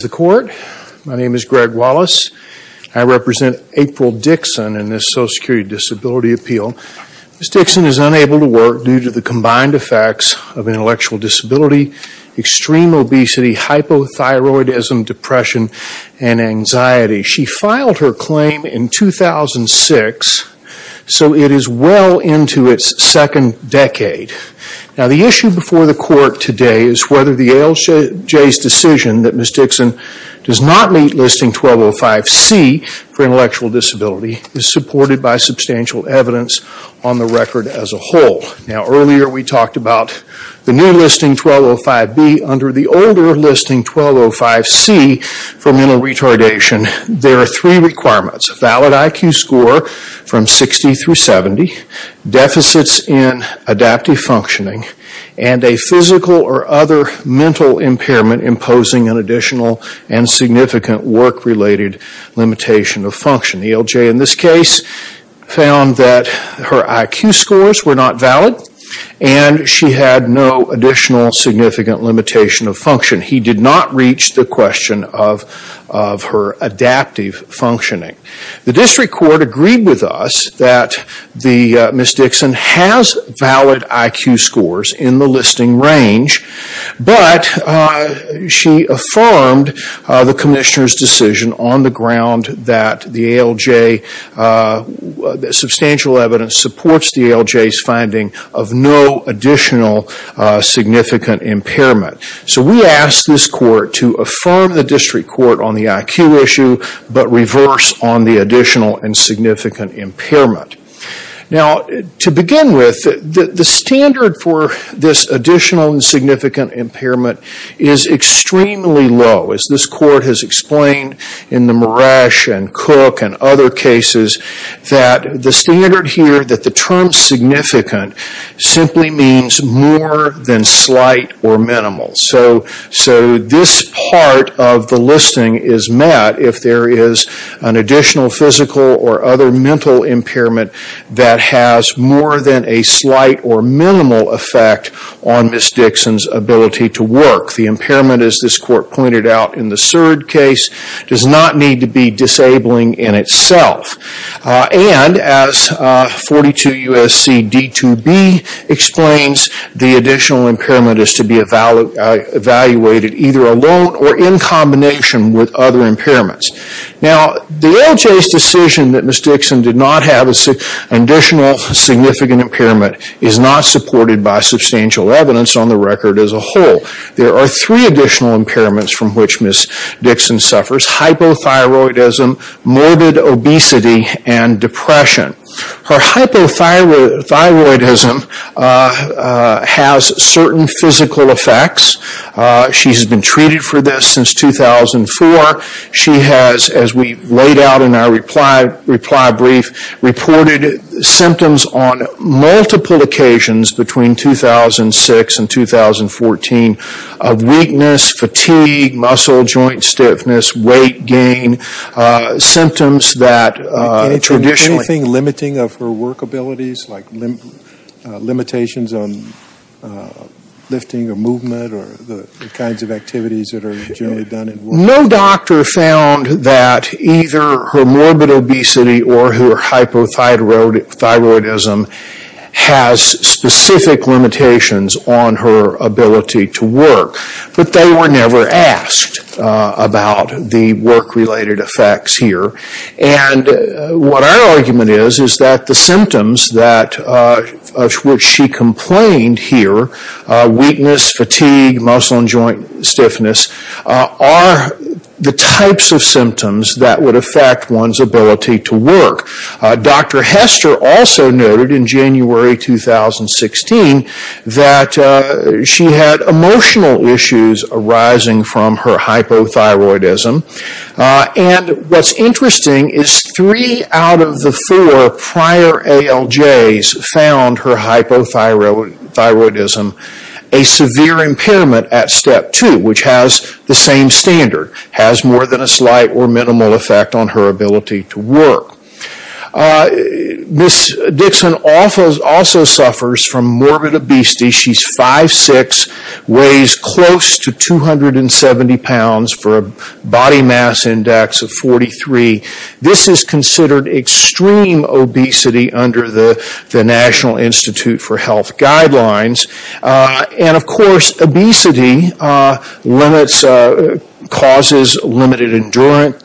The Court, my name is Greg Wallace. I represent April Dixon in this Social Security Disability Appeal. Ms. Dixon is unable to work due to the combined effects of intellectual disability, extreme obesity, hypothyroidism, depression, and anxiety. She filed her claim in 2006, so it is well into its second decade. Now the issue before the Court today is whether the ALJ's decision that Ms. Dixon does not meet Listing 1205C for intellectual disability is supported by substantial evidence on the record as a whole. Now earlier we talked about the new Listing 1205B under the older Listing 1205C for mental retardation. There are three requirements, a valid IQ score from 60 through 70, deficits in adaptive functioning, and a physical or other mental impairment imposing an additional and significant work-related limitation of function. The ALJ in this case found that her IQ scores were not valid and she had no additional significant limitation of function. He did not reach the question of her adaptive functioning. The District Court agreed with us that Ms. Dixon has valid IQ scores in the Listing range, but she affirmed the Commissioner's decision on the ground that the ALJ, that substantial evidence supports the ALJ's finding of no additional significant impairment. So we ask this Court to affirm the District Court on the IQ issue, but reverse on the additional and significant impairment. Now to begin with, the standard for this additional and significant impairment is extremely low. As this Court has explained in the Moresh and Cook and other cases, that the standard here that the term significant simply means more than slight or minimal. So this part of the Listing is met if there is an additional physical or other mental impairment that has more than a slight or minimal effect on Ms. Dixon's ability to work. The impairment, as this Court pointed out in the Surd case, does not need to be disabling in itself. And as 42 U.S.C. D2B explains, the additional impairment is to be evaluated either alone or in combination with other impairments. Now the ALJ's decision that Ms. Dixon did not have an additional significant impairment is not supported by substantial evidence on the record as a whole. There are three additional impairments from which Ms. Dixon suffers. Hypothyroidism, morbid obesity, and depression. Her hypothyroidism has certain physical effects. She has been treated for this since 2004. She has, as we laid out in our reply brief, reported symptoms on multiple occasions between 2006 and 2014 of weakness, fatigue, muscle joint stiffness, weight gain. Symptoms that traditionally... Can you tell us anything limiting of her work abilities, like limitations on lifting or movement or the kinds of activities that are generally done in work? No doctor found that either her morbid obesity or her hypothyroidism has specific limitations on her ability to work. But they were never asked about the work-related effects here. And what our argument is, is that the symptoms of which she complained here, weakness, fatigue, muscle and joint stiffness, are the types of symptoms that would affect one's ability to work. Dr. Hester also noted in January 2016 that she had emotional issues arising from her hypothyroidism. And what's interesting is three out of the four prior ALJs found her hypothyroidism a severe impairment at step two, which has the same standard. Has more than a slight or minimal effect on her ability to work. Ms. Dixon also suffers from morbid obesity. She's 5'6", weighs close to 270 pounds for a body mass index of 43. This is considered extreme obesity under the National Institute for Health Guidelines. And of course, obesity limits, causes limited endurance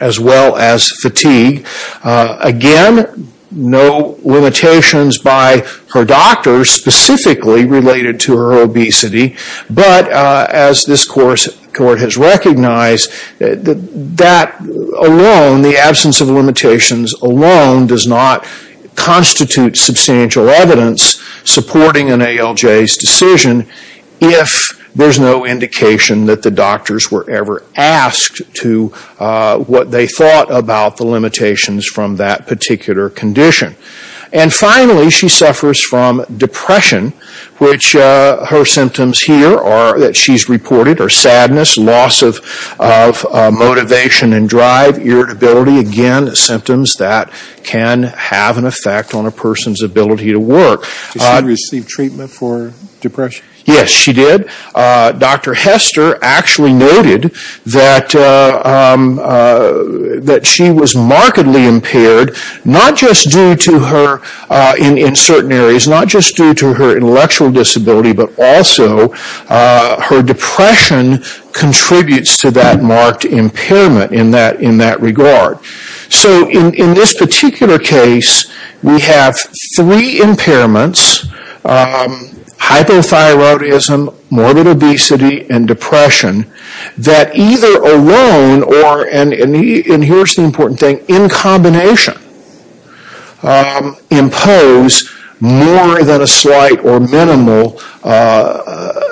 as well as fatigue. Again, no limitations by her doctors specifically related to her obesity. But as this court has recognized, that alone, the absence of limitations alone does not constitute substantial evidence supporting an ALJ's decision if there's no indication that the doctors were ever asked to what they thought about the limitations from that particular condition. And finally, she suffers from depression, which her symptoms here are that she's reported are sadness, loss of motivation and drive, irritability. Again, symptoms that can have an effect on a person's ability to work. Did she receive treatment for depression? Yes, she did. Dr. Hester actually noted that she was markedly impaired, not just due to her, in certain areas, not just due to her intellectual disability, but also her depression contributes to that marked impairment in that regard. So in this particular case, we have three impairments, hypothyroidism, morbid obesity and depression, that either alone or, and here's the important thing, in combination impose more than a slight or minimal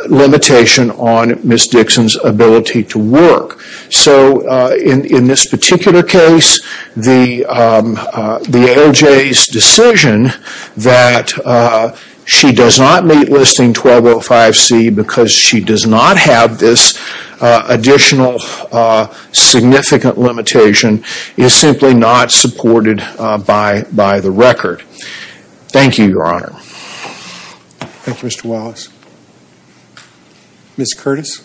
limitation on Ms. Dixon's ability to work. So in this particular case, the ALJ's decision that she does not meet Listing 1205C because she does not have this additional significant limitation is simply not supported by the record. Thank you, Your Honor. Thank you, Mr. Wallace. Ms. Curtis?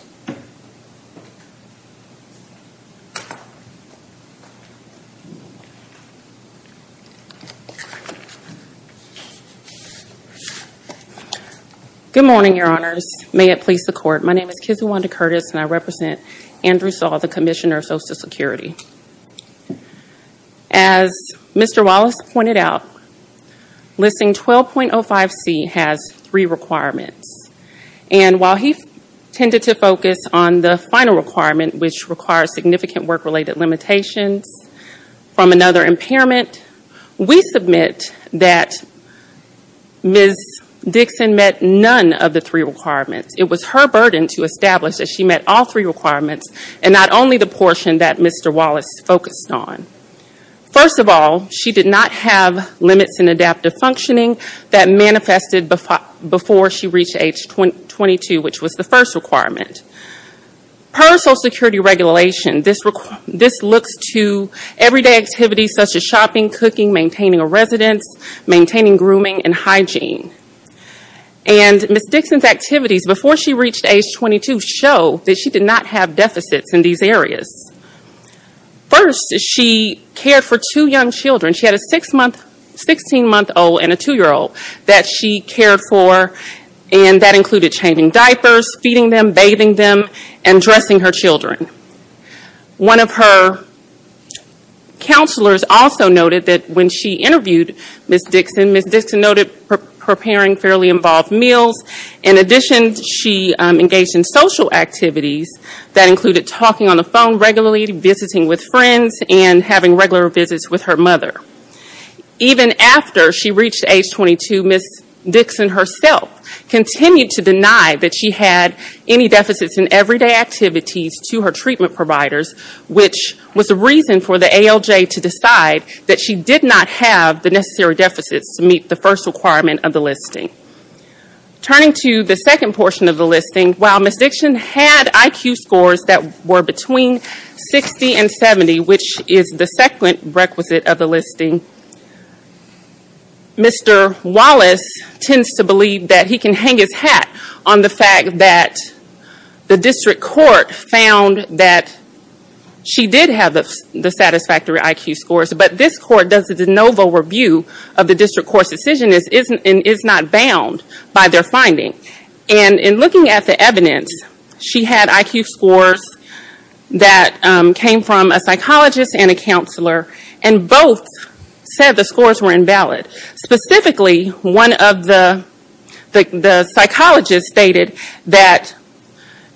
Good morning, Your Honors. May it please the Court. My name is Kizuwanda Curtis and I represent Andrew Saw, the Commissioner of Social Security. As Mr. Wallace pointed out, Listing 12.05C has three requirements. And while he tended to focus on the final requirement, which requires significant work-related limitations from another impairment, we submit that Ms. Dixon met none of the three requirements. It was her burden to establish that she met all three requirements and not only the portion that Mr. Wallace focused on. First of all, she did not have limits in adaptive functioning that manifested before she reached age 22, which was the first requirement. Per Social Security regulation, this looks to everyday activities such as shopping, cooking, maintaining a residence, maintaining grooming and hygiene. And Ms. Dixon's activities before she reached age 22 show that she did not have deficits in these areas. First, she cared for two young children. She had a 16-month-old and a 2-year-old that she cared for, and that included changing diapers, feeding them, bathing them, and dressing her children. One of her counselors also noted that when she interviewed Ms. Dixon, Ms. Dixon noted preparing fairly she engaged in social activities that included talking on the phone regularly, visiting with friends, and having regular visits with her mother. Even after she reached age 22, Ms. Dixon herself continued to deny that she had any deficits in everyday activities to her treatment providers, which was a reason for the ALJ to decide that she did not have the necessary deficits to meet the first requirement of the listing. Turning to the second portion of the listing, while Ms. Dixon had IQ scores that were between 60 and 70, which is the second requisite of the listing, Mr. Wallace tends to believe that he can hang his hat on the fact that the district court found that she did have the satisfactory IQ scores. But this court does a de novo review of the district court's decision and is not bound by their finding. In looking at the evidence, she had IQ scores that came from a psychologist and a counselor, and both said the scores were invalid. Specifically, one of the psychologists stated that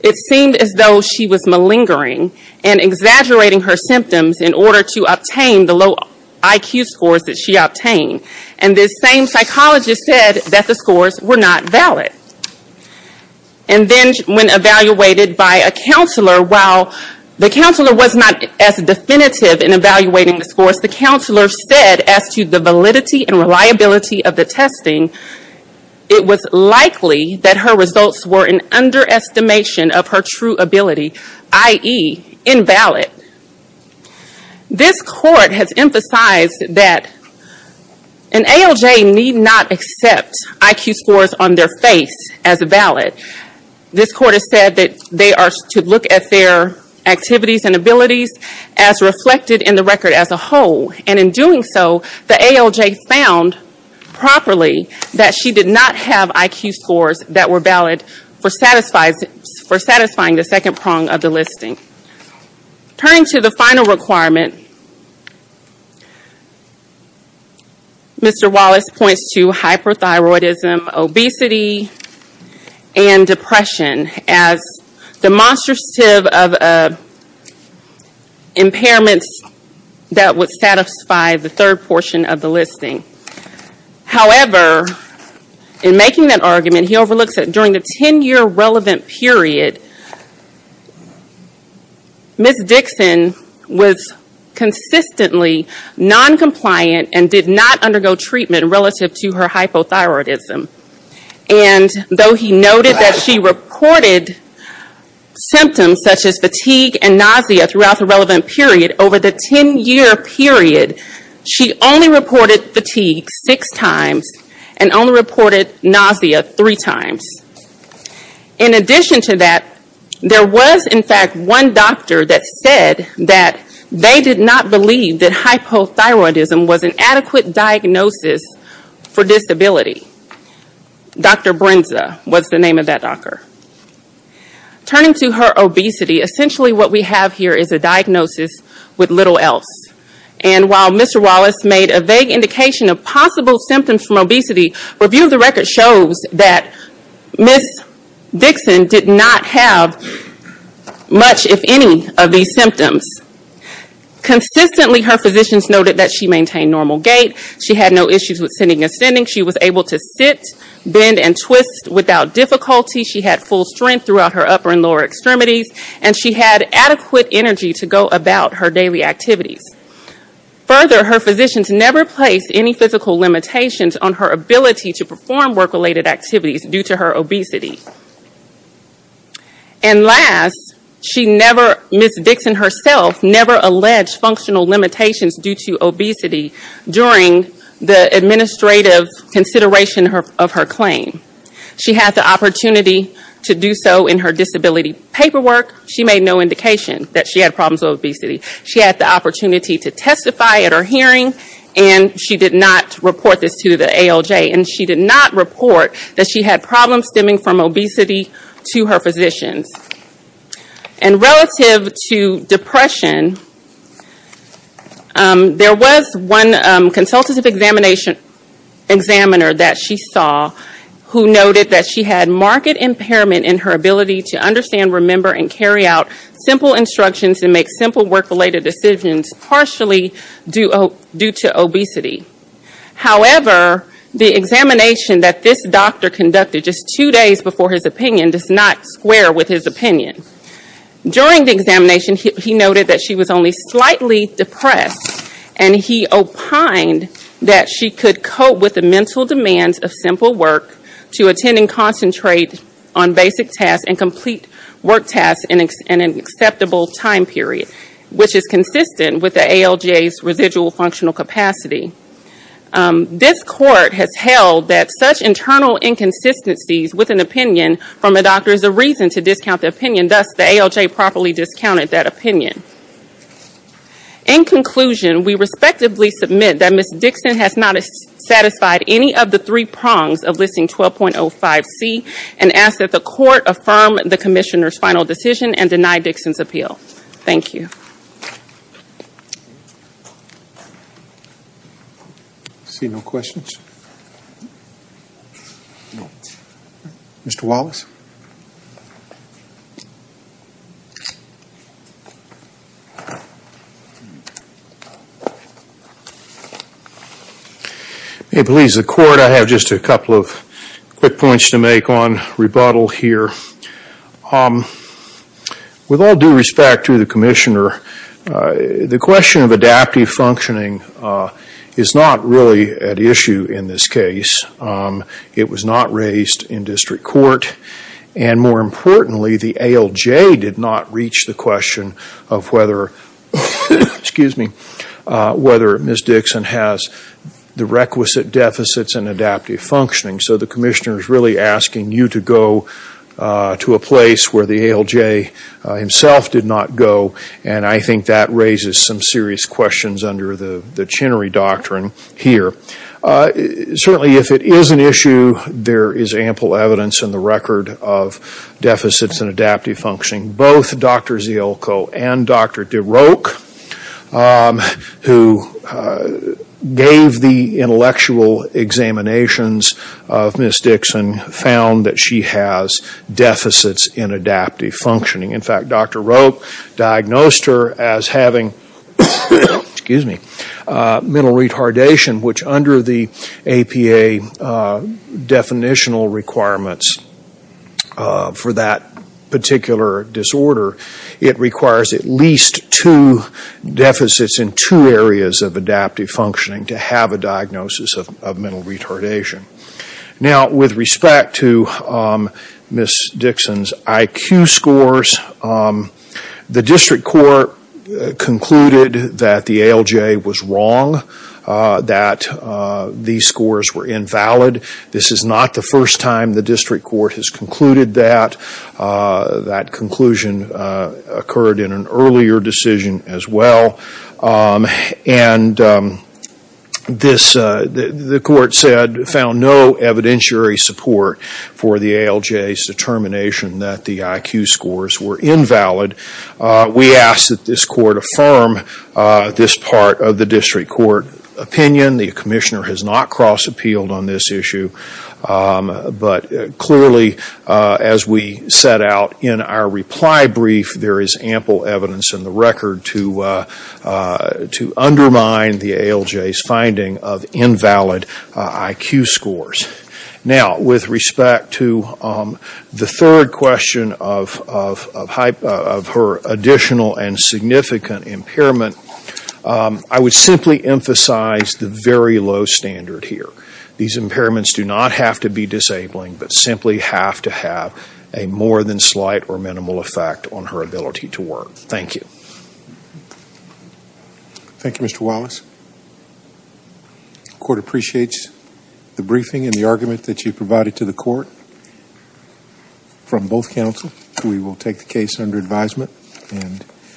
it seemed as though she was malingering and exaggerating her symptoms in order to obtain the low IQ scores that she obtained. This same psychologist said that the scores were not valid. When evaluated by a counselor, while the counselor was not as definitive in evaluating the scores, the counselor said as to the validity and reliability of the testing, it was likely that her results were an underestimation of her true ability, i.e., invalid. This court has emphasized that an ALJ need not accept IQ scores on their face as valid. This court has said that they are to look at their activities and abilities as reflected in the record as a whole. In doing so, the ALJ found properly that she did not have IQ scores that were valid for satisfying the second prong of the listing. Turning to the final requirement, Mr. Wallace points to hyperthyroidism, obesity, and depression as demonstrative of impairments that would satisfy the third portion of the listing. However, in making that argument, he overlooks that during the 10-year relevant period, Ms. Dixon was consistently non-compliant and did not undergo treatment relative to her hypothyroidism. Though he noted that she reported symptoms such as fatigue and nausea throughout the relevant period, over the 10-year period, she only reported fatigue six times and only reported nausea three times. In addition to that, there was in fact one doctor that said that they did not believe that hypothyroidism was an adequate diagnosis for disability. Dr. Brinza was the name of that doctor. Turning to her obesity, essentially what we have here is a diagnosis with little else. While Mr. Wallace made a vague indication of possible symptoms from obesity, a review of the record shows that Ms. Dixon did not have much, if any, of these symptoms. Consistently, her physicians noted that she maintained normal gait, she had no issues with sitting ascending, she was able to sit, bend, and twist without difficulty, she had full strength throughout her upper and lower extremities, and she had adequate energy to go about her daily activities. Further, her physicians never placed any physical limitations on her ability to perform work-related activities due to her obesity. And last, Ms. Dixon herself never alleged functional limitations due to obesity during the administrative consideration of her claim. She had the opportunity to do so in her disability paperwork. She made no indication that she had problems with obesity. She had the opportunity to testify at her hearing, and she did not report this to the ALJ. And she did not report that she had problems stemming from obesity to her physicians. And relative to depression, there was one consultative examiner that she saw who noted that she had marked impairment in her ability to understand, remember, and carry out simple instructions and make simple work-related decisions partially due to obesity. However, the examination that this doctor conducted just two days before his opinion does not square with his opinion. During the examination, he noted that she was only slightly depressed, and he opined that she could cope with the mental demands of simple work to attend and concentrate on basic tasks and complete work tasks in an acceptable time period, which is consistent with the ALJ's residual functional capacity. This Court has held that such internal inconsistencies with an opinion from a doctor is a reason to discount the opinion. Thus, the ALJ properly discounted that opinion. In conclusion, we respectively submit that Ms. Dixon has not satisfied any of the three prongs of Listing 12.05c and ask that the Court affirm the Commissioner's final decision and deny Dixon's appeal. Thank you. I see no questions. Mr. Wallace? If it pleases the Court, I have just a couple of quick points to make on rebuttal here. With all due respect to the Commissioner, the question of adaptive functioning is not really at issue in this case. It was not raised in District Court, and more importantly, the ALJ did not reach the question of whether Ms. Dixon has the requisite deficits in adaptive functioning. So the Commissioner is really asking you to go to a place where the ALJ himself did not go, and I think that raises some serious questions under the Chenery Doctrine here. Certainly, if it is an issue, there is ample evidence in the record of deficits in adaptive functioning. Both Dr. Ziolko and Dr. DeRoke, who gave the intellectual examinations of Ms. Dixon, found that she has deficits in adaptive functioning. In fact, Dr. Roke diagnosed her as having mental retardation, which under the APA definitional requirements for that particular disorder, it requires at least two deficits in two areas of adaptive functioning to have a diagnosis of mental retardation. Now, with respect to Ms. Dixon's IQ scores, the District Court concluded that the ALJ was wrong, that these scores were invalid. This is not the first time the District Court has concluded that. That conclusion occurred in an earlier decision as well. And the Court found no evidentiary support for the ALJ's determination that the IQ scores were invalid. We ask that this Court affirm this part of the District Court opinion. The Commissioner has not cross-appealed on this issue, but clearly as we set out in our reply brief, there is ample evidence in the record to undermine the ALJ's finding of invalid IQ scores. Now, with respect to the third question of her additional and significant impairment, I would simply emphasize the very low standard here. These impairments do not have to be disabling, but simply have to have a more than slight or minimal effect on her ability to work. Thank you.